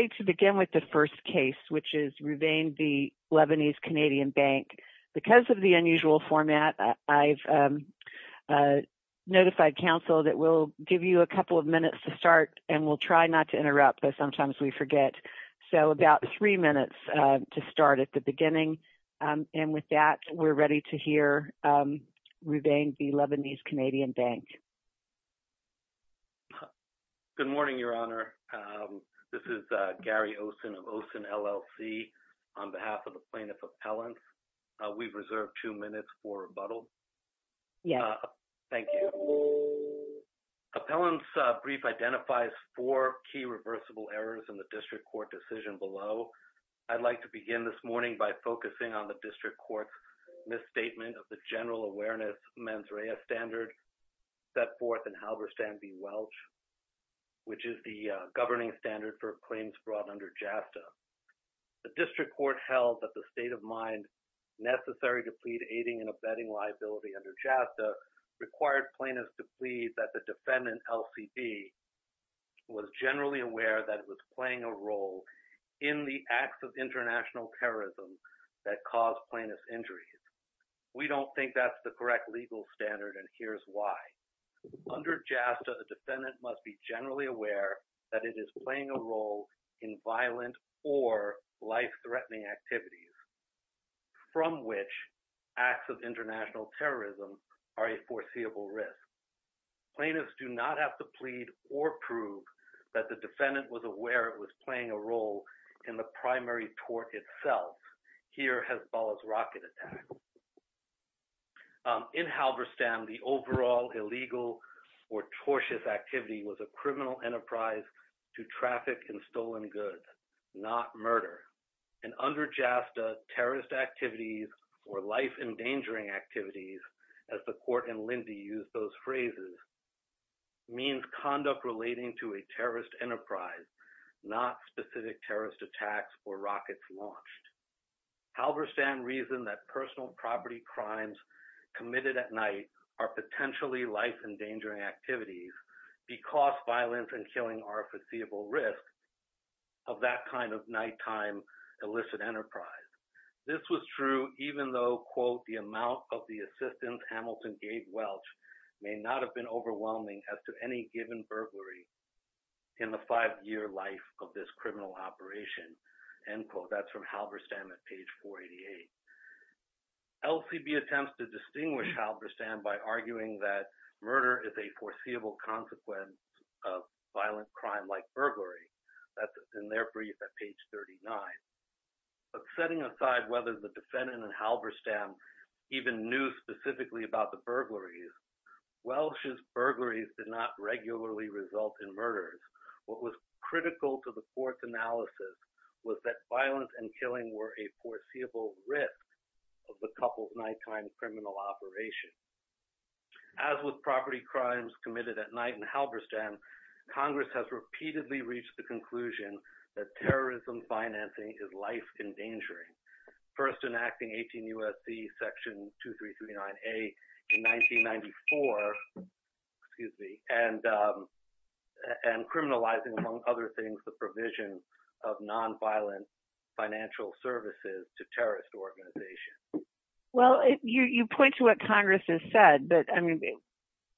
We're ready to begin with the first case, which is Rouvain v. Lebanese Canadian Bank. Because of the unusual format, I've notified counsel that we'll give you a couple of minutes to start, and we'll try not to interrupt, but sometimes we forget. So about three minutes to start at the beginning, and with that, we're ready to hear Rouvain v. Lebanese Canadian Bank. Good morning, Your Honor. This is Gary Osen of Osen LLC. On behalf of the plaintiff's appellants, we've reserved two minutes for rebuttal. Yes. Thank you. Appellant's brief identifies four key reversible errors in the district court decision below. I'd like to begin this morning by focusing on the district court's misstatement of the governing standard for claims brought under JASTA. The district court held that the state of mind necessary to plead aiding and abetting liability under JASTA required plaintiffs to plead that the defendant, LCB, was generally aware that it was playing a role in the acts of international terrorism that caused plaintiffs' injuries. We don't think that's the correct legal standard, and here's why. Under JASTA, the defendant must be generally aware that it is playing a role in violent or life-threatening activities from which acts of international terrorism are a foreseeable risk. Plaintiffs do not have to plead or prove that the defendant was aware it was playing a role in the primary tort itself, here Hezbollah's rocket attack. In Halberstam, the overall illegal or tortious activity was a criminal enterprise to traffic in stolen goods, not murder. And under JASTA, terrorist activities or life-endangering activities, as the court and Lindy used those phrases, means conduct relating to a terrorist enterprise, not specific terrorist attacks or rockets launched. Halberstam reasoned that personal property crimes committed at night are potentially life-endangering activities because violence and killing are a foreseeable risk of that kind of nighttime illicit enterprise. This was true even though, quote, the amount of the assistance Hamilton gave Welch may not have been overwhelming as to any given burglary in the five-year life of this criminal operation, end quote. That's from Halberstam at page 488. LCB attempts to distinguish Halberstam by arguing that murder is a foreseeable consequence of violent crime like burglary. That's in their brief at page 39. But setting aside whether the defendant in Halberstam even knew specifically about the burglaries, Welch's burglaries did not regularly result in murders. What was critical to the court's analysis was that violence and killing were a foreseeable risk of the couple's nighttime criminal operation. As with property crimes committed at night in Halberstam, Congress has repeatedly reached the conclusion that terrorism financing is life-endangering. First enacting 18 U.S.C. Section 2339A in 1994, excuse me, and criminalizing, among other things, the provision of nonviolent financial services to terrorist organizations. Well, you point to what Congress has said, but I mean,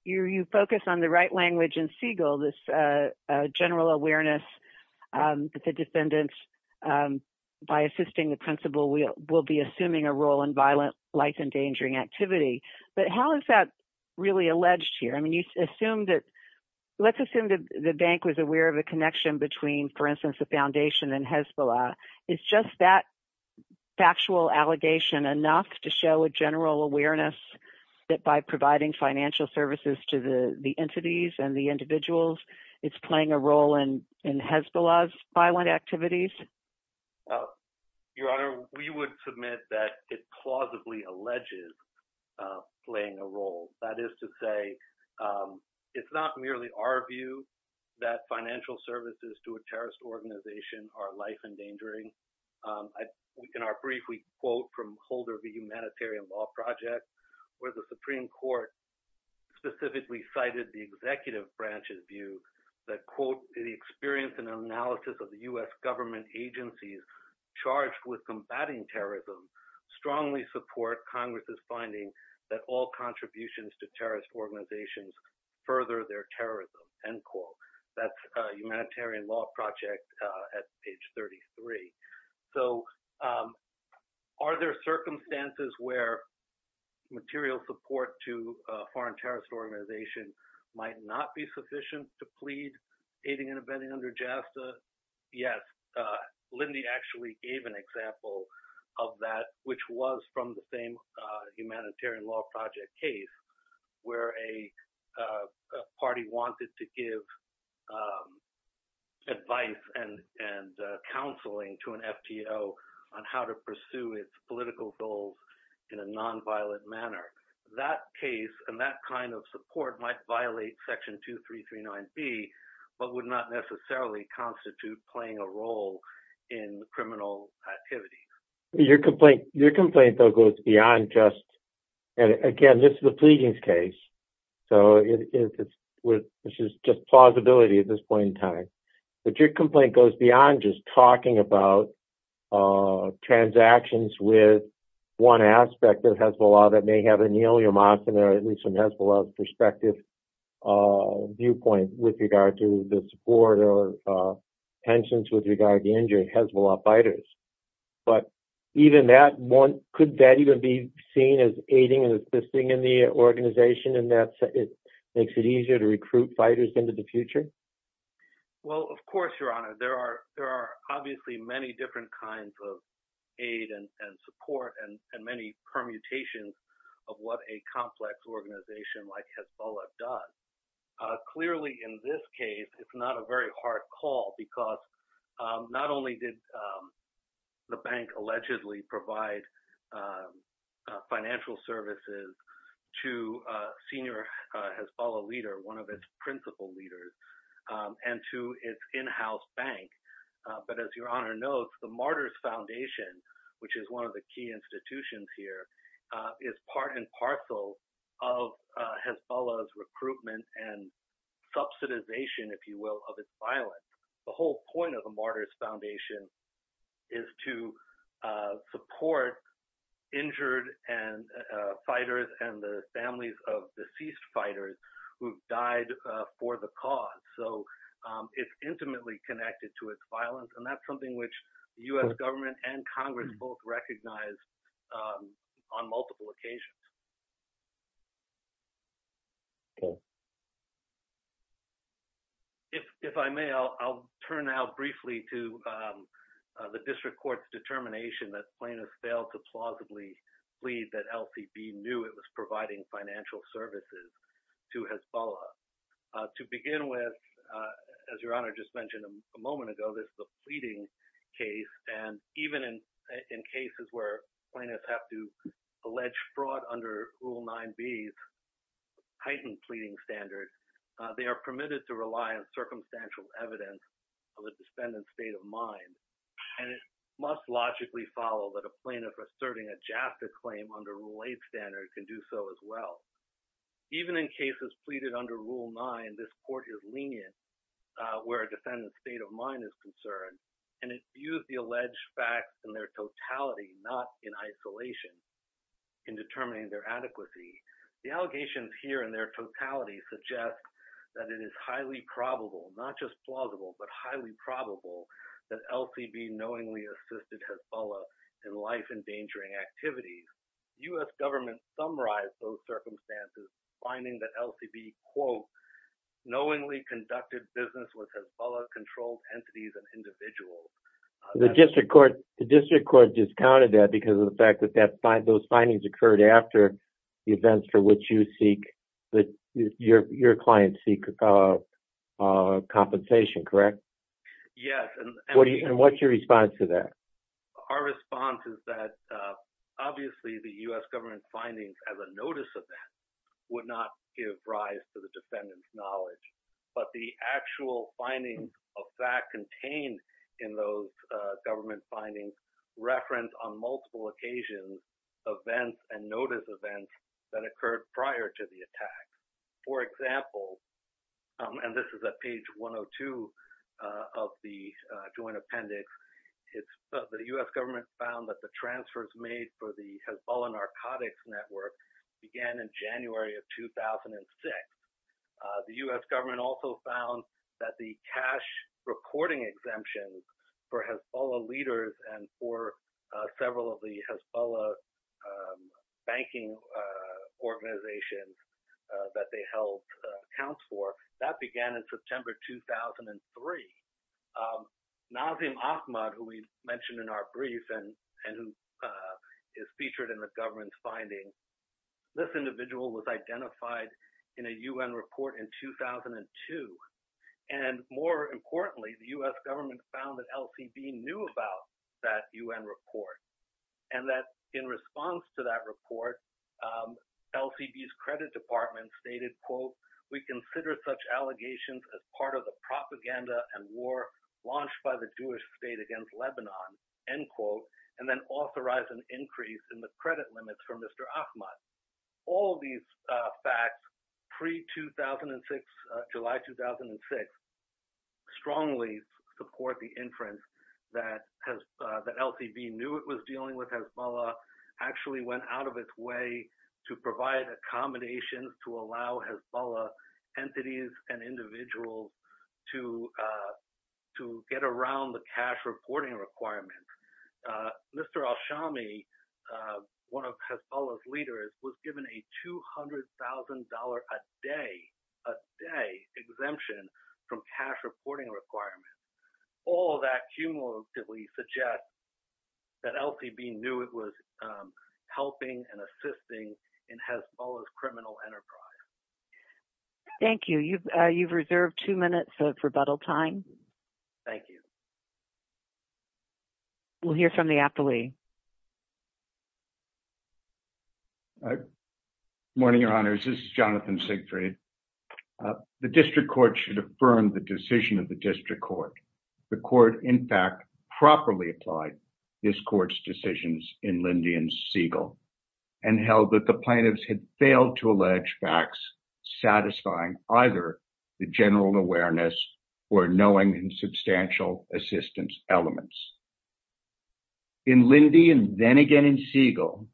you focus on the right language in Siegel, this general awareness that the defendants, by assisting the principal, will be assuming a role in violent, life-endangering activity. But how is that really alleged here? I mean, you assume that, let's assume that the bank was aware of a connection between, for instance, the foundation and Hezbollah. Is just that factual allegation enough to show a general awareness that by providing financial services to the entities and the individuals, it's playing a role in Hezbollah's violent activities? Your Honor, we would submit that it plausibly alleges playing a role. That is to say, it's not merely our view that financial services to a terrorist organization are life-endangering. In our brief, we quote from Holder v. Humanitarian Law Project, where the Supreme Court specifically cited the executive branch's view that, quote, the experience and analysis of the U.S. government agencies charged with combating terrorism strongly support Congress's finding that all contributions to terrorist organizations further their terrorism, end quote. That's Humanitarian Law Project at page 33. So are there circumstances where material support to a foreign terrorist organization might not be sufficient to plead aiding and abetting under JASTA? Yes. Lindy actually gave an example of that, which was from the same Humanitarian Law Project case, where a party wanted to give advice and counseling to an FTO on how to pursue its political goals in a nonviolent manner. That case and that kind of support might violate Section 2339B, but would not necessarily constitute playing a role in criminal activities. Your complaint, though, goes beyond just—and again, this is a pleadings case, so it's just plausibility at this point in time—but your complaint goes beyond just talking about transactions with one aspect of Hezbollah that may have a neoliamontan or at least from Hezbollah's perspective viewpoint with regard to the support or tensions with regard to injured Hezbollah fighters. But even that, could that even be seen as aiding and assisting in the organization in that it makes it easier to recruit fighters into the future? Well, of course, Your Honor. There are obviously many different kinds of aid and support and many permutations of what a complex organization like Hezbollah does. Clearly, in this case, it's not a very hard call because not only did the bank allegedly provide financial services to a senior Hezbollah leader, one of its principal leaders, and to its in-house bank, but as Your Honor knows, the Martyrs Foundation, which is one of the key institutions here, is part and parcel of Hezbollah's recruitment and subsidization, if you will, of its violence. The whole point of the Martyrs Foundation is to support injured fighters and the families of deceased fighters who have died for the cause. So it's intimately connected to its violence, and that's something which the U.S. government and Congress both recognize on multiple occasions. If I may, I'll turn now briefly to the district court's determination that plaintiffs failed to plausibly plead that LCB knew it was providing financial services to Hezbollah. To begin with, as Your Honor just mentioned a moment ago, this is a pleading case, and even in cases where plaintiffs have to allege fraud under Rule 9b's heightened pleading standard, they are permitted to rely on circumstantial evidence of a defendant's state of mind, and it must logically follow that a plaintiff asserting a jaffa claim under Rule 8 standard can do so as well. Even in cases pleaded under Rule 9, this court is lenient where a defendant's state of mind is concerned, and it views the alleged facts in their totality, not in isolation in determining their adequacy. The allegations here in their totality suggest that it is highly probable, not just plausible, but highly probable that LCB knowingly assisted Hezbollah in life-endangering activities. U.S. government summarized those circumstances, finding that LCB, quote, knowingly conducted business with Hezbollah-controlled entities and individuals. The district court discounted that because of the fact that those findings occurred after the events for which your clients seek compensation, correct? Yes. And what's your response to that? Our response is that, obviously, the U.S. government findings as a notice of that would not give rise to the defendant's knowledge. But the actual findings of that contained in those government findings reference on multiple occasions events and notice events that occurred prior to the attack. For example, and this is at page 102 of the joint appendix, the U.S. government found that the transfers made for the Hezbollah narcotics network began in January of 2006. The U.S. government also found that the cash reporting exemptions for Hezbollah leaders and for several of the Hezbollah banking organizations that they held accounts for, that began in September 2003. Nazim Ahmad, who we mentioned in our brief and who is featured in the government's finding, this individual was identified in a U.N. report in 2002. And more importantly, the U.S. government found that LCB knew about that U.N. report and that in response to that report, LCB's credit department stated, quote, we consider such allegations as part of the propaganda and war launched by the Jewish state against Lebanon, end quote, and then authorized an increase in the credit limits for Mr. Ahmad. All of these facts pre-2006, July 2006, strongly support the inference that LCB knew it was dealing with Hezbollah, actually went out of its way to provide accommodations to allow Hezbollah entities and individuals to get around the cash reporting requirements. Mr. Alshami, one of Hezbollah's leaders, was given a $200,000 a day, a day, exemption from cash reporting requirements. All that cumulatively suggests that LCB knew it was helping and assisting in Hezbollah's criminal enterprise. Thank you. You've reserved two minutes for rebuttal time. Thank you. We'll hear from the appellee. Good morning, Your Honors. This is Jonathan Siegfried. The district court should affirm the decision of the district court. The court, in fact, properly applied this court's decisions in Lindy and Siegel and held that the plaintiffs had failed to allege facts satisfying either the general awareness or knowing and substantial assistance elements. In Lindy and then again in Siegel,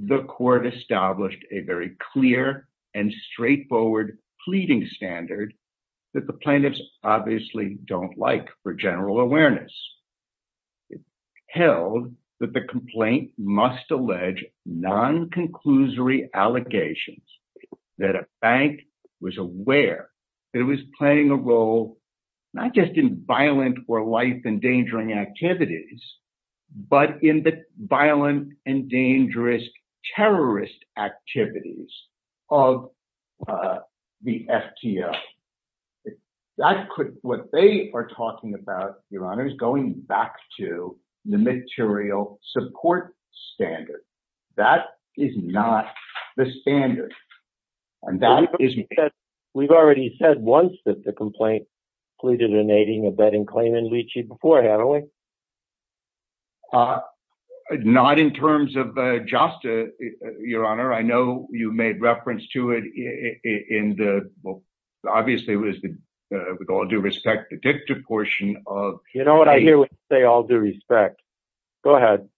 the court established a very clear and straightforward pleading standard that the plaintiffs obviously don't like for general awareness. It held that the complaint must allege non-conclusory allegations that a bank was aware that it was playing a role not just in violent or life-endangering activities, but in the violent and dangerous terrorist activities of the FTO. If that could what they are talking about, Your Honors, going back to the material support standard, that is not the standard. We've already said once that the complaint pleaded in aiding a betting claim in Litchi before, haven't we? Not in terms of JASTA, Your Honor. I know you made reference to it in the, well, obviously it was the with all due respect, the dicta portion of- You know what I hear when you say all due respect. Go ahead.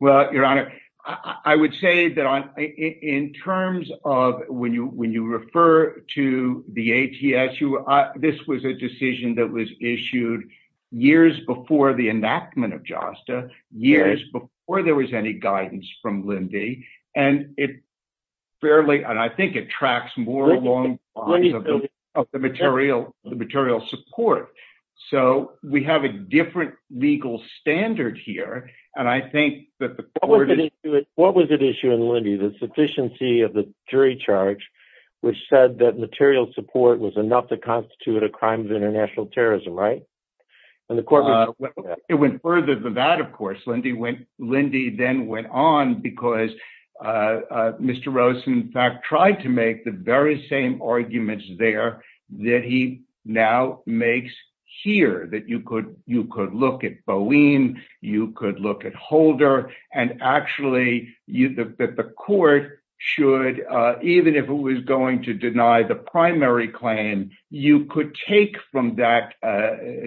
Well, Your Honor, I would say that in terms of when you refer to the ATSU, this was a decision that was issued years before the enactment of JASTA, years before there was any guidance from Lindy, and I think it tracks more along the lines of the material support. So we have a different legal standard here, and I think that the court is- What was at issue in Lindy? The sufficiency of the jury charge, which said that material support was enough to constitute a crime of international terrorism, right? It went further than that, of course. Lindy then went on because Mr. Rosen, in fact, tried to make the very same arguments there that he now makes here, that you could look at Bowen, you could look at Holder, and actually that the court should, even if it was going to deny the primary claim, you could take from that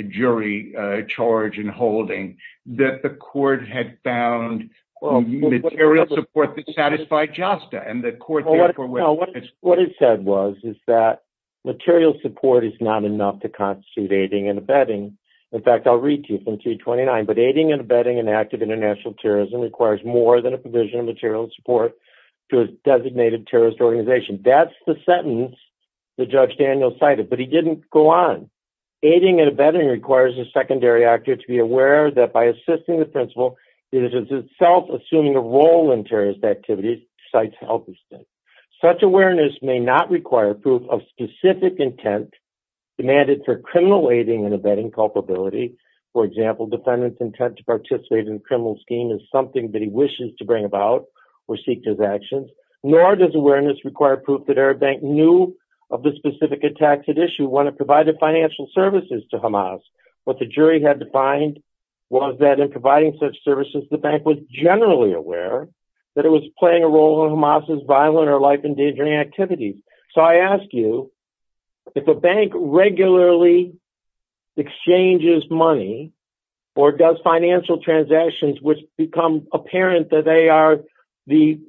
jury charge and holding, that the court had found material support that satisfied JASTA. What it said was that material support is not enough to constitute aiding and abetting. In fact, I'll read to you from 229, but aiding and abetting an act of international terrorism requires more than a provision of material support to a designated terrorist organization. That's the sentence that Judge Daniel cited, but he didn't go on. Aiding and abetting requires a secondary actor to be aware that by assisting the principal, it is itself assuming a role in terrorist activities besides help. Such awareness may not require proof of specific intent demanded for criminal aiding and abetting culpability. For example, defendant's intent to participate in a criminal scheme is something that he wishes to bring about or seek his actions, nor does awareness require proof that Arab Bank knew of the specific attacks at issue when it provided financial services to Hamas. What the jury had to find was that in providing such services, the bank was generally aware that it was playing a role in Hamas's violent or life-endangering activities. So I ask you, if a bank regularly exchanges money or does financial transactions, which become apparent that they are the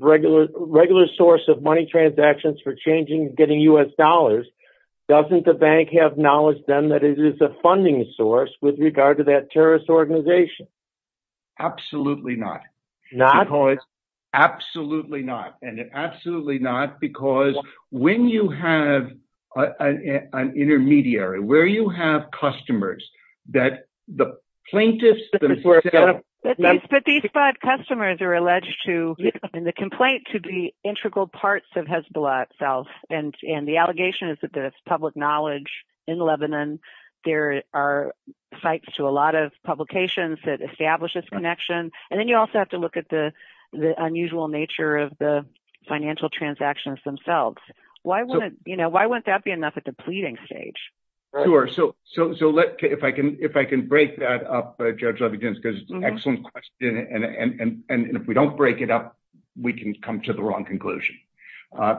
regular source of money transactions for changing, getting U.S. dollars, doesn't the bank have knowledge then that it is a funding source with regard to that terrorist organization? Absolutely not. Absolutely not. And absolutely not because when you have an intermediary, where you have customers that the plaintiffs... But these five customers are alleged to, in the complaint, to be integral parts of Hezbollah itself. And the allegation is that there's public knowledge in Lebanon. There are sites to a lot of publications that establish this connection. And then you also have to look at the unusual nature of the financial transactions themselves. Why wouldn't that be enough at the pleading stage? Sure. So if I can break that up, Judge Levy-Jones, because it's an excellent question. And if we don't break it up, we can come to the wrong conclusion.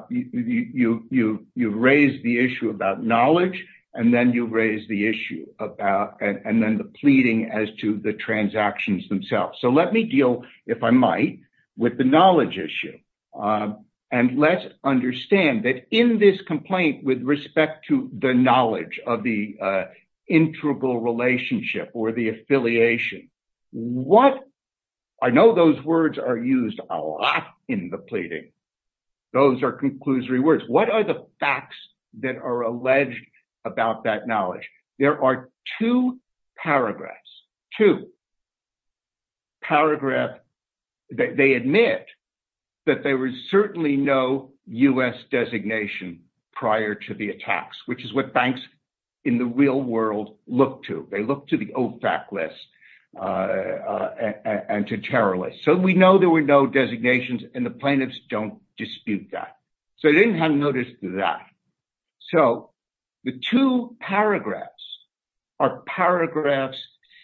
You've raised the issue about knowledge, and then you've raised the issue about... And then the pleading as to the transactions themselves. So let me deal, if I might, with the knowledge issue. And let's understand that in this complaint, with respect to the knowledge of the integral relationship or the affiliation, what... I know those words are used a lot in the pleading. Those are conclusory words. What are the facts that are alleged about that knowledge? There are two paragraphs, two paragraphs that they admit that there was certainly no U.S. designation prior to the attacks, which is what banks in the real world look to. They look to the OFAC list and to terrorist. So we know there were no designations, and the plaintiffs don't dispute that. So they didn't have noticed that. So the two paragraphs are paragraphs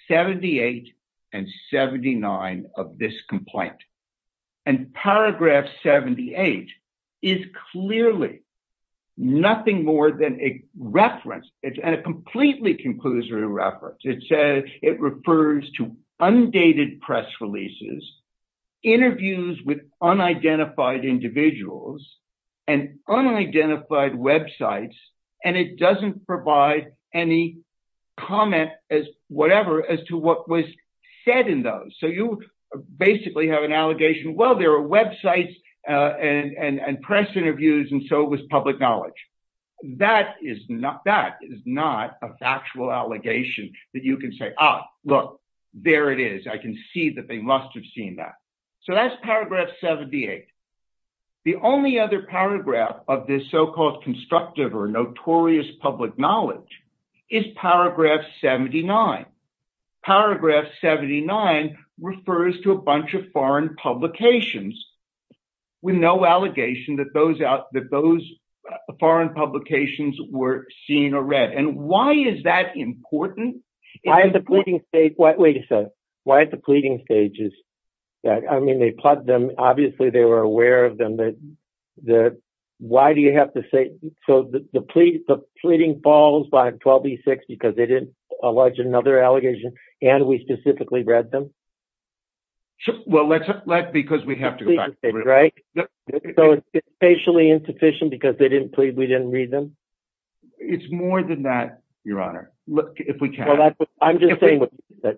78 and 79 of this complaint. And paragraph 78 is clearly nothing more than a reference. It's a completely conclusory reference. It says it refers to undated press releases, interviews with unidentified individuals, and unidentified websites, and it doesn't provide any comment as whatever as to what was said in those. So you basically have an allegation, well, there are websites and press interviews, and so it was public knowledge. That is not a factual allegation that you can say, ah, look, there it is. I can see that they must have seen that. So that's paragraph 78. The only other paragraph of this so-called constructive or notorious public knowledge is paragraph 79. Paragraph 79 refers to a bunch of foreign publications with no allegation that those foreign publications were seen or read. And why is that important? Why is the pleading stage, wait a second, why is the pleading stages? I mean, they plugged them. Obviously, they were aware of them. Why do you have to say, so the pleading falls by 1286 because they didn't allege another allegation and we specifically read them? Well, that's because we have to go back, right? So it's spatially insufficient because they didn't plead, we didn't read them? It's more than that, Your Honor, if we can. I'm just saying what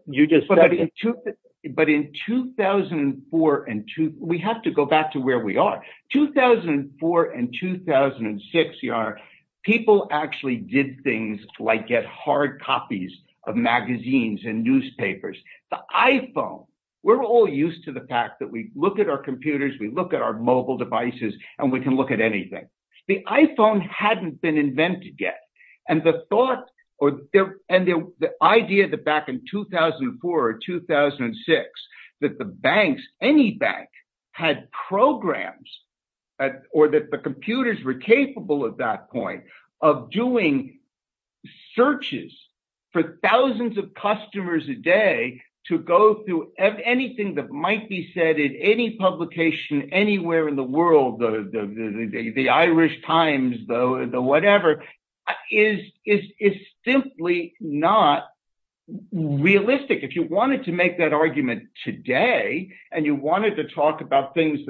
you just said. But in 2004 and, we have to go back to where we are. 2004 and 2006, Your Honor, people actually did things like get hard copies of magazines and newspapers. The iPhone, we're all used to the fact that we look at our computers, we look at our mobile devices, and we can look at anything. The iPhone hadn't been invented yet. And the thought, and the idea that back in 2004 or 2006 that the banks, any bank, had programs or that the computers were capable at that point of doing searches for thousands of customers a day to go through anything that might be said in any publication anywhere in the world, the Irish Times, the whatever. It's simply not realistic. If you wanted to make that argument today, and you wanted to talk about things,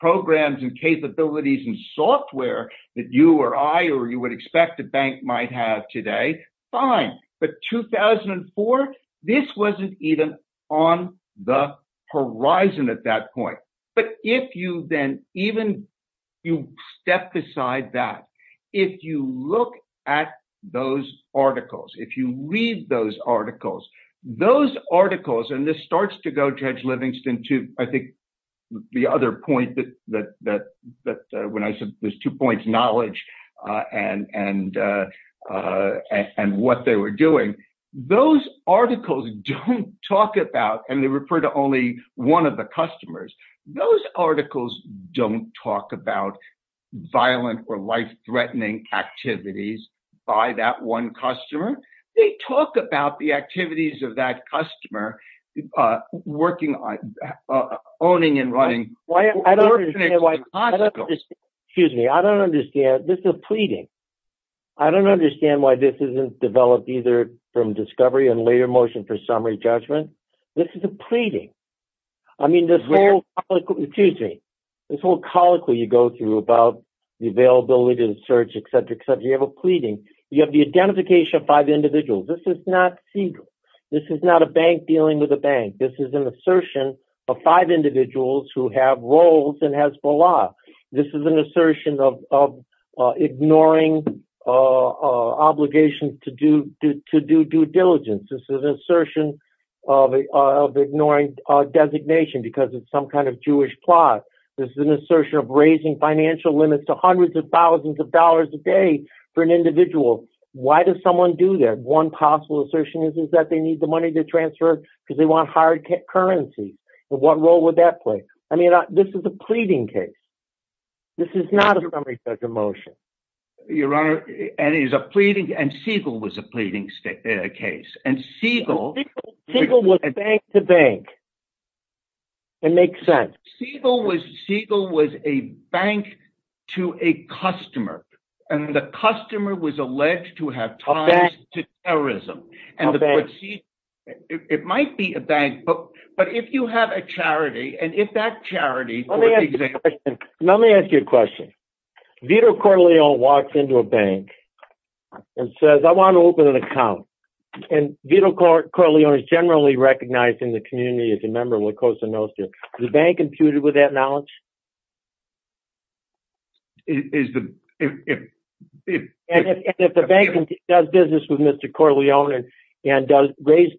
programs and capabilities and software that you or I or you would expect a bank might have today, fine. But 2004, this wasn't even on the horizon at that point. But if you then, even you step beside that, if you look at those articles, if you read those articles, those articles, and this starts to go, Judge Livingston, to I think the other point that when I said there's two points, knowledge and what they were doing, those articles don't talk about violent or life-threatening activities by that one customer. They talk about the activities of that customer working on, owning and running. I don't understand why, excuse me, I don't understand. This is a pleading. I don't understand why this isn't developed either from discovery and later motion for summary judgment. This is a pleading. I mean, this whole, excuse me, this whole colloquy you go through about the availability and search, et cetera, et cetera. You have a pleading. You have the identification of five individuals. This is not secret. This is not a bank dealing with a bank. This is an assertion of five individuals who have roles and has the law. This is an assertion of ignoring obligations to do due diligence. This is an assertion of ignoring designation because it's some kind of Jewish plot. This is an assertion of raising financial limits to hundreds of thousands of dollars a day for an individual. Why does someone do that? One possible assertion is that they need the money to transfer because they want hard currency. What role would that play? I mean, this is a pleading case. This is not a summary judgment motion. And it is a pleading, and Siegel was a pleading case. And Siegel- Siegel was bank to bank. It makes sense. Siegel was a bank to a customer, and the customer was alleged to have ties to terrorism. It might be a bank, but if you have a charity, and if that charity- Let me ask you a question. Vito Corleone walks into a bank and says, I want to open an account. And Vito Corleone is generally recognized in the community as a member of La Cosa Nostra. Is the bank imputed with that knowledge? Is the- And if the bank does business with Mr. Corleone and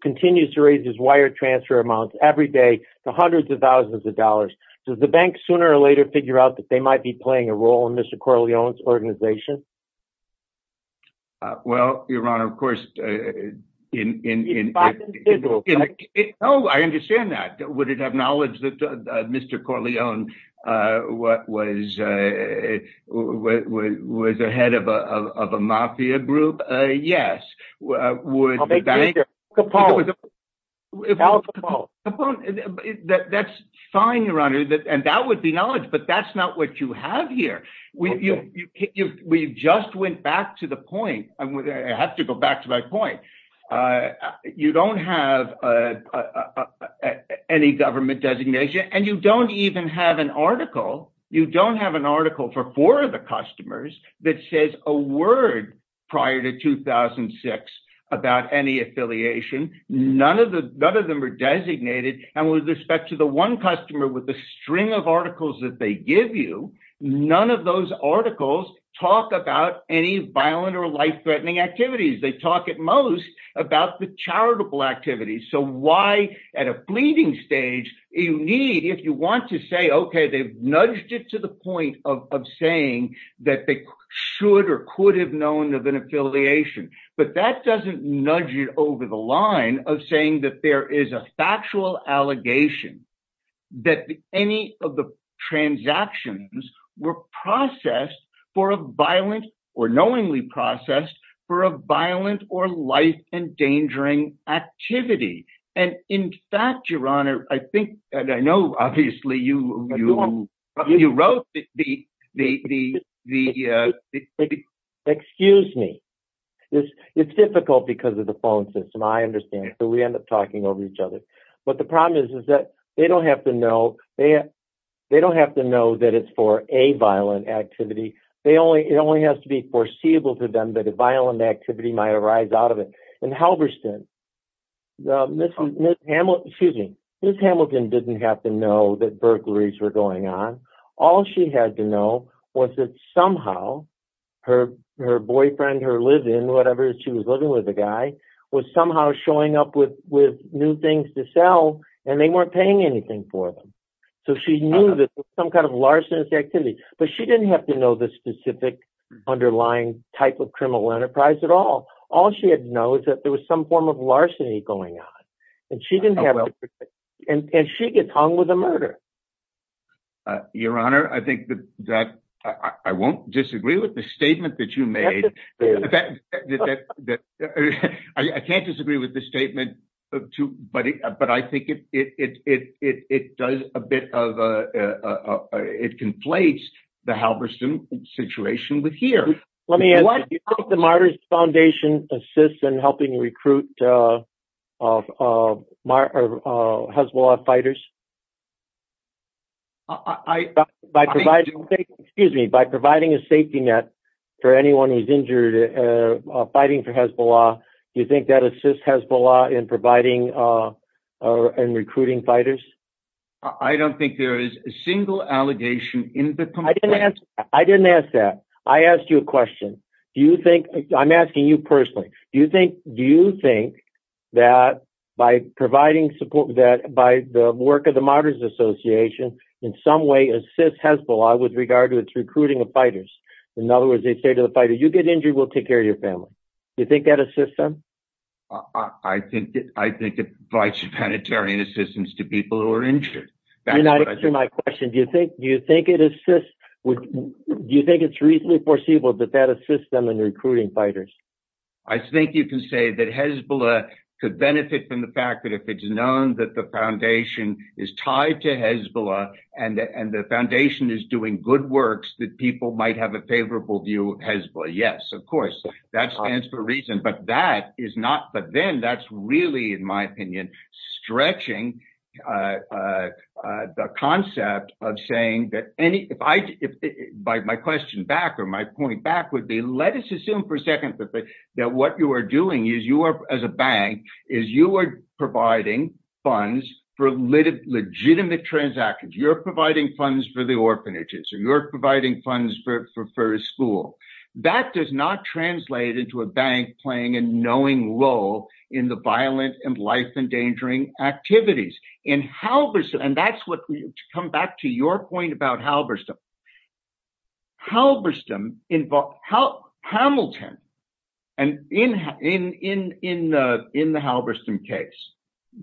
continues to raise his wire transfer amounts every day to hundreds of thousands of dollars, does the bank sooner or later figure out that might be playing a role in Mr. Corleone's organization? Well, Your Honor, of course- No, I understand that. Would it have knowledge that Mr. Corleone was a head of a mafia group? Yes. That's fine, Your Honor. And that would be knowledge, but that's not what you have here. We just went back to the point. I have to go back to my point. You don't have any government designation, and you don't even have an article. You don't have an article for four of the customers that says a word prior to 2006 about any affiliation. None of them are designated. And with respect to the one customer with the string of articles that they give you, none of those articles talk about any violent or life-threatening activities. They talk at most about the charitable activities. So why, at a fleeting stage, if you want to say, okay, they've nudged it to the point of saying that they should or could have known of an affiliation, but that doesn't nudge it over the line of saying that there is a factual allegation that any of the transactions were processed for a violent or knowingly processed for a violent or life-endangering activity. And in fact, Your Honor, I think, and I know, obviously, you wrote the... Excuse me. It's difficult because of the phone system. We end up talking over each other. But the problem is that they don't have to know that it's for a violent activity. It only has to be foreseeable to them that a violent activity might arise out of it. In Halberstam, Ms. Hamilton didn't have to know that burglaries were going on. All she had to know was that somehow her boyfriend, her live-in, whatever she was living with the guy, was somehow showing up with new things to sell, and they weren't paying anything for them. So she knew that some kind of larcenous activity, but she didn't have to know the specific underlying type of criminal enterprise at all. All she had to know is that there was some form of larceny going on. And she gets hung with a murder. Your Honor, I think that I won't disagree with the statement that you made. I can't disagree with the statement, but I think it conflates the Halberstam situation with here. Let me ask, do you think the Martyrs Foundation assists in helping recruit Hezbollah fighters? I don't think there is a single allegation in the complaint. I didn't ask that. I asked you a question. Do you think, I'm asking you personally, do you think that by providing support, the Martyrs Association in some way assists Hezbollah with regard to its recruiting of fighters? In other words, they say to the fighter, you get injured, we'll take care of your family. Do you think that assists them? I think it provides humanitarian assistance to people who are injured. You're not answering my question. Do you think it's reasonably foreseeable that that assists them in recruiting fighters? I think you can say that Hezbollah could benefit from the fact that if it's known that the foundation is tied to Hezbollah and the foundation is doing good works, that people might have a favorable view of Hezbollah. Yes, of course, that stands for a reason, but then that's really, in my opinion, stretching the concept of saying that any, if my question back or my point back would be, let us assume for a second that what you are doing as a bank is you are providing funds for legitimate transactions. You're providing funds for the orphanages or you're providing funds for a school. That does not translate into a bank playing a knowing role in the violent and life-endangering activities in Halberstam. And that's what, to come back to your point about Halberstam, in the Halberstam case,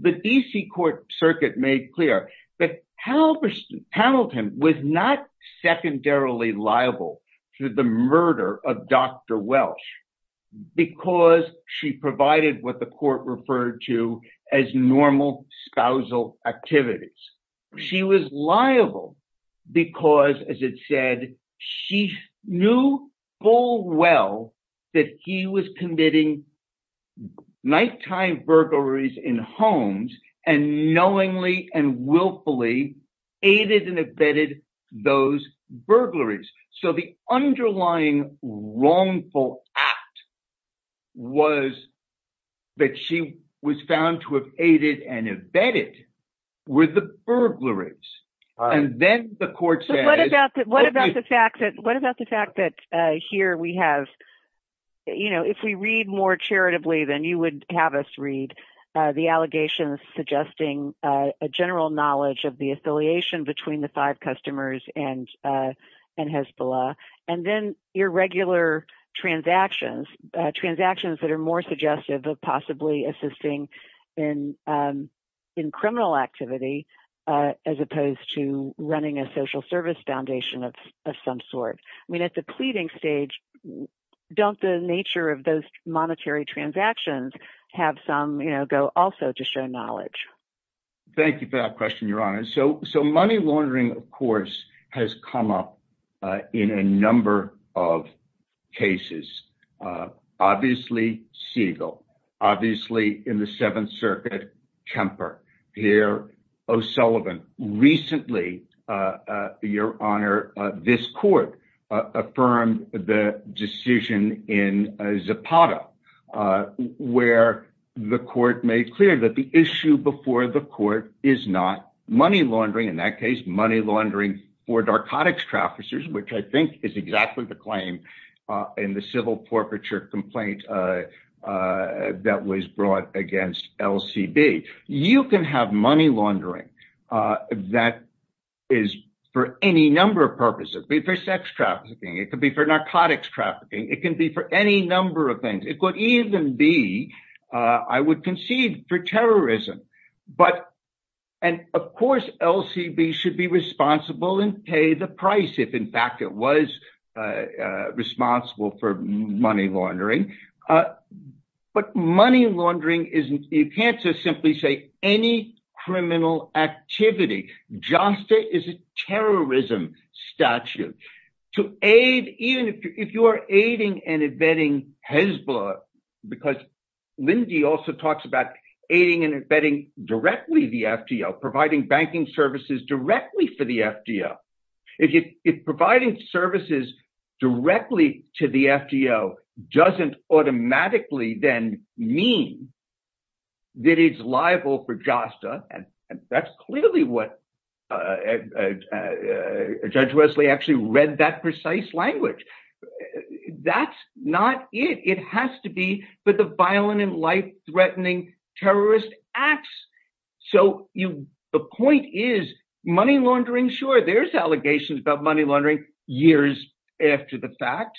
the D.C. court circuit made clear that Halberstam was not secondarily liable to the murder of Dr. Welsh because she provided what the court referred to as normal spousal activities. She was liable because, as it said, she knew full well that he was committing nighttime burglaries in homes and knowingly and willfully aided and abetted those burglaries. So the underlying wrongful act was that she was found to have aided and abetted with the burglaries. And then the court said... But what about the fact that here we have, you know, if we read more charitably, then you would have us read the allegations suggesting a general knowledge of the affiliation between the five customers and Hezbollah. And then irregular transactions, transactions that are more suggestive of possibly assisting in criminal activity as opposed to running a social service foundation of some sort. I mean, at the pleading stage, don't the nature of those monetary transactions have some, you know, go also to show knowledge? Thank you for that question, Your Honor. So money laundering, of course, has come up in a number of cases. Obviously, Siegel. Obviously, in the Seventh Circuit, Kemper. Here, O'Sullivan. Recently, Your Honor, this court affirmed the decision in Zapata where the court made clear that the issue before the court is not money laundering. In that case, money laundering for narcotics traffickers, which I think is exactly the claim in the civil forfeiture complaint that was brought against LCB. You can have money laundering that is for any number of purposes. It could be for sex trafficking. It could be for narcotics trafficking. It can be for any number of things. It could even be, I would concede, for terrorism. And of course, LCB should be responsible and pay the price if, in fact, it was responsible for money laundering. But money laundering isn't, you can't just simply say any criminal activity. JASTA is a terrorism statute. To aid, even if you are aiding and abetting Hezbollah, because Lindy also talks about aiding and abetting directly the FDL, providing banking services directly for the FDL. If providing services directly to the FDL doesn't automatically then mean that it's liable for JASTA, and that's clearly what Judge Wesley actually read that precise language. That's not it. It has to be for the violent and life-threatening terrorist acts. So, the point is, money laundering, sure, there's allegations about money laundering years after the fact.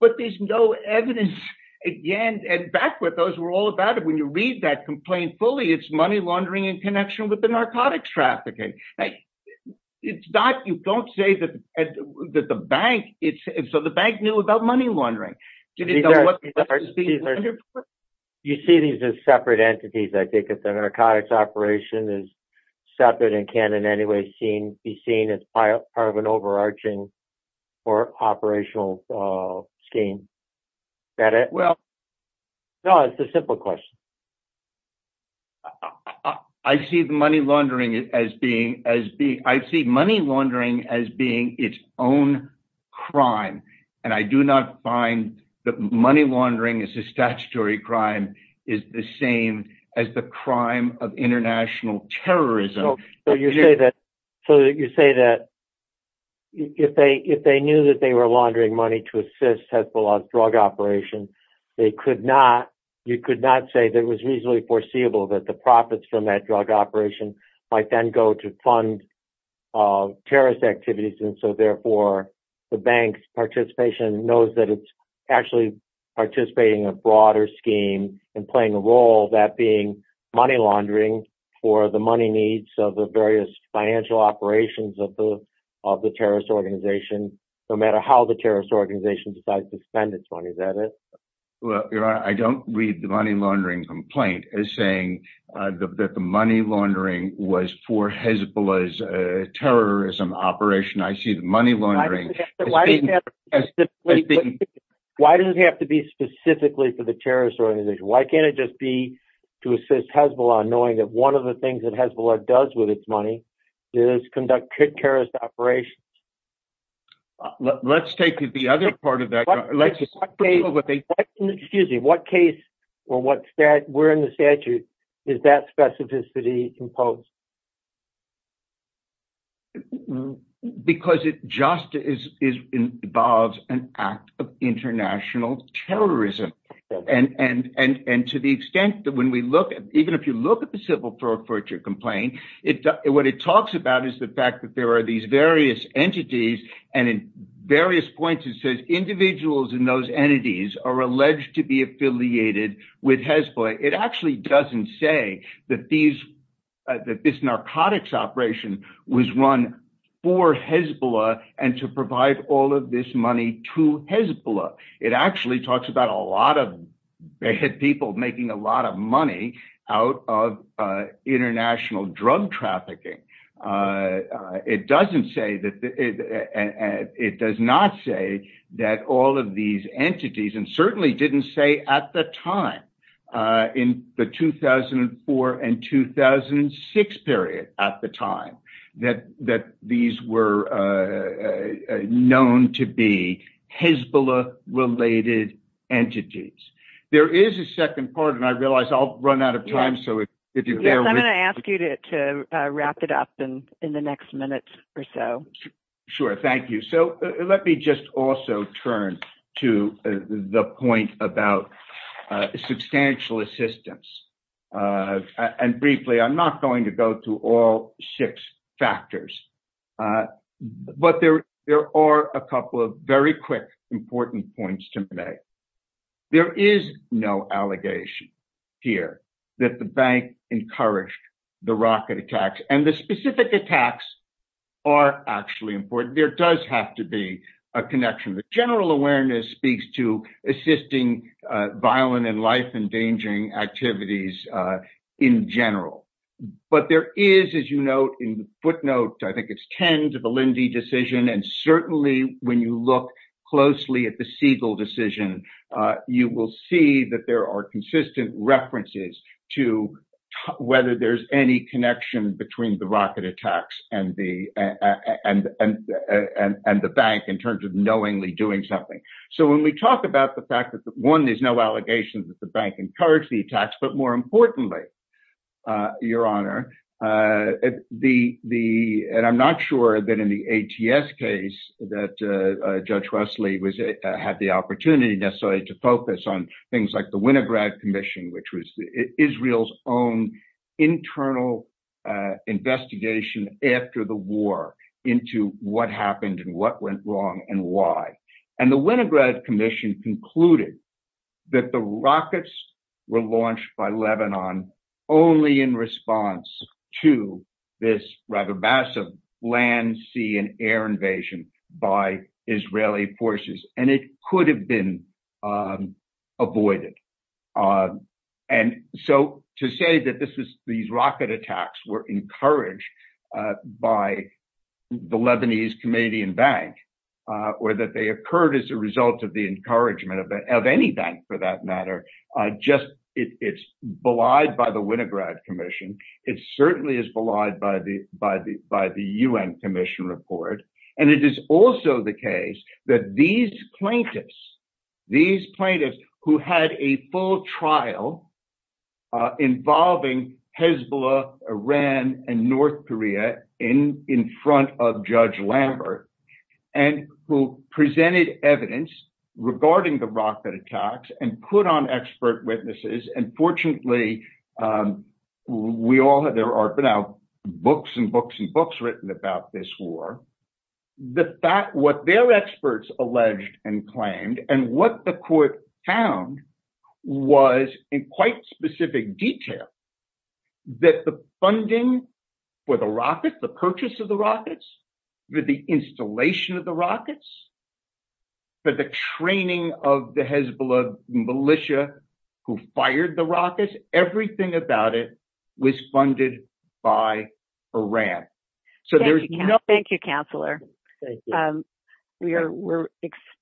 But there's no evidence, again, and back where those were all about it, when you read that complaint fully, it's money laundering in connection with the narcotics trafficking. It's not, you don't say that the bank, so the bank knew about money laundering. Did it know what it was being laundered for? You see these as separate entities, I think, if the narcotics operation is separate and can in any way be seen as part of an overarching or operational scheme. Well, no, it's a simple question. I see money laundering as being its own crime, and I do not find that money laundering is statutory crime, is the same as the crime of international terrorism. So, you say that if they knew that they were laundering money to assist Hezbollah's drug operation, they could not, you could not say that it was reasonably foreseeable that the profits from that drug operation might then go to fund terrorist activities, and so therefore the bank's participation knows that it's actually participating in a broader scheme and playing a role, that being money laundering for the money needs of the various financial operations of the terrorist organization, no matter how the terrorist organization decides to spend its money, is that it? Well, Your Honor, I don't read the money laundering complaint as saying that the money laundering was for Hezbollah's terrorism operation. I see the money laundering as being- Why does it have to be specifically for the terrorist organization? Why can't it just be to assist Hezbollah, knowing that one of the things that Hezbollah does with its money is conduct terrorist operations? Let's take the other part of that. Excuse me, what case or what statute, we're in the statute, is that specificity imposed? Because it just involves an act of international terrorism, and to the extent that when we look, even if you look at the civil forfeiture complaint, what it talks about is the fact that there are these various entities, and in various points it says individuals in those entities are alleged to be affiliated with Hezbollah. It actually doesn't say that this narcotics operation was run for Hezbollah and to provide all of this money to Hezbollah. It actually talks about a lot of people making a lot of money out of international drug trafficking. It does not say that all of these entities, and certainly didn't say at the time, in the 2004 and 2006 period, at the time, that these were known to be Hezbollah-related entities. There is a second part, and I realize I'll run out of time, so if you bear with me. Yes, I'm going to ask you to wrap it up in the next minute or so. Sure, thank you. Let me just also turn to the point about substantial assistance. Briefly, I'm not going to go through all six factors, but there are a couple of very quick, important points to make. There is no allegation here that the bank encouraged the rocket attacks, and the specific attacks are actually important. There does have to be a connection. The general awareness speaks to assisting violent and life-endangering activities in general. But there is, as you note in the footnote, I think it's 10 to the Lindy decision, and certainly when you look closely at the Siegel decision, you will see that there are consistent references to whether there's any connection between the rocket attacks and the bank in terms of knowingly doing something. So when we talk about the fact that, one, there's no allegation that the bank encouraged the attacks, but more importantly, Your Honor, and I'm not sure that in the ATS case that Judge Wesley had the opportunity necessarily to focus on things like the Winograd Commission, which was Israel's own internal investigation after the war into what happened and what went wrong and why. And the Winograd Commission concluded that the rockets were launched by Lebanon only in response to this rather massive land, sea, and air invasion by Israeli forces, and it could have been avoided. And so to say that these rocket attacks were encouraged by the Lebanese Comedian Bank, or that they occurred as a result of the encouragement of any bank for that matter, it's belied by the Winograd Commission. It certainly is belied by the UN Commission report. And it is also the case that these plaintiffs, these plaintiffs who had a full trial involving Hezbollah, Iran, and North Korea in front of Judge Lambert, and who presented evidence regarding the rocket attacks and put on expert witnesses. And fortunately, there are now books and books and books written about this war. What their experts alleged and claimed and what the court found was in quite specific detail that the funding for the rockets, the purchase of the rockets, the installation of the rockets, for the training of the Hezbollah militia who fired the rockets, everything about it was funded by Iran. So there's no- Thank you, Counselor.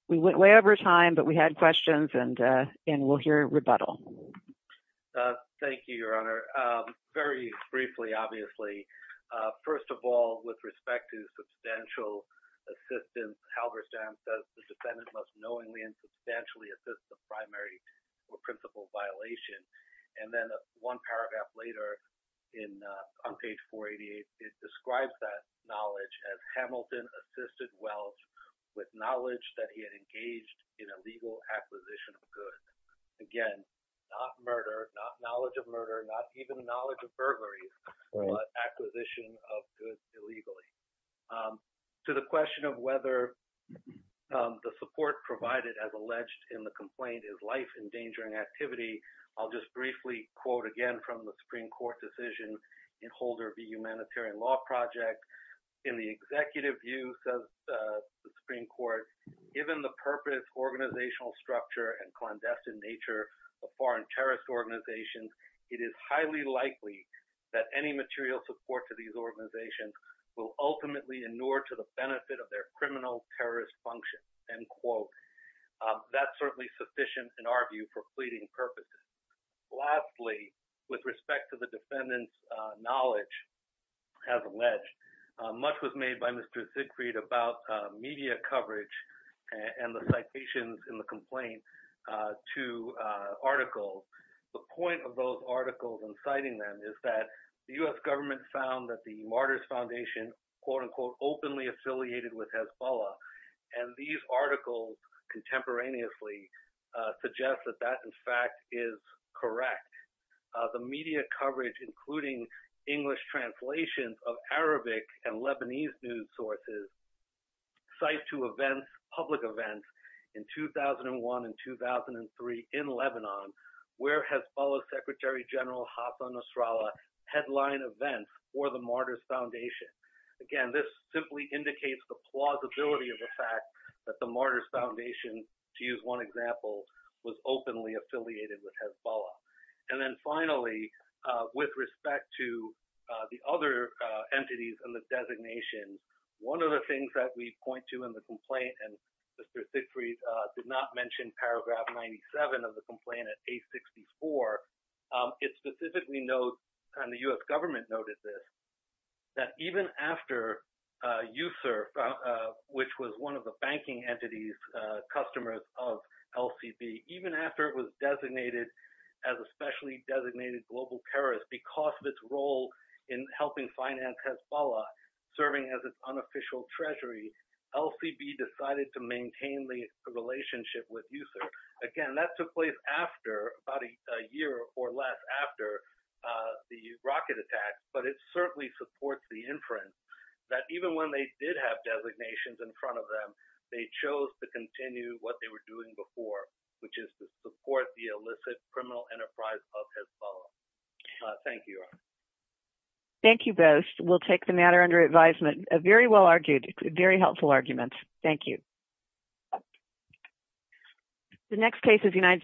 We went way over time, but we had questions and we'll hear a rebuttal. Thank you, Your Honor. Very briefly, obviously. First of all, with respect to substantial assistance, Halberstam says the defendant must knowingly and substantially assist the primary or principal violation. And then one paragraph later on page 488, it describes that knowledge as Hamilton assisted Welch with knowledge that he had engaged in a legal acquisition of goods. Again, not murder, not knowledge of murder, not even knowledge of burglaries, but acquisition of goods illegally. To the question of whether the support provided as alleged in the complaint is life-endangering activity, I'll just briefly quote again from the Supreme Court decision in Holder v. Humanitarian Law Project. In the executive views of the Supreme Court, given the purpose, organizational structure, and clandestine nature of foreign terrorist organizations, it is highly likely that any material support to these organizations will ultimately inure to the benefit of their criminal terrorist function, end quote. That's certainly sufficient in our view for pleading purposes. Lastly, with respect to the defendant's knowledge as alleged, much was made by Mr. to articles. The point of those articles and citing them is that the U.S. government found that the Martyrs Foundation, quote-unquote, openly affiliated with Hezbollah. And these articles contemporaneously suggest that that, in fact, is correct. The media coverage, including English translations of Arabic and Lebanese news sources, cite to events, public events, in 2001 and 2003 in Lebanon, where Hezbollah Secretary General Hassan Nasrallah headlined events for the Martyrs Foundation. Again, this simply indicates the plausibility of the fact that the Martyrs Foundation, to use one example, was openly affiliated with Hezbollah. And then finally, with respect to the other entities and the designation, one of the things that we point to in the complaint, and Mr. Sigfried did not mention paragraph 97 of the complaint at page 64, it specifically notes, and the U.S. government noted this, that even after USIRF, which was one of the banking entities, customers of LCB, even after it was designated as a specially designated global terrorist because of its role in helping finance Hezbollah serving as its unofficial treasury, LCB decided to maintain the relationship with USIRF. Again, that took place after, about a year or less after the rocket attack. But it certainly supports the inference that even when they did have designations in front of them, they chose to continue what they were doing before, which is to support the illicit criminal enterprise of Hezbollah. Thank you. Thank you both. We'll take the matter under advisement. Very well argued. Very helpful arguments. Thank you. The next case is United States.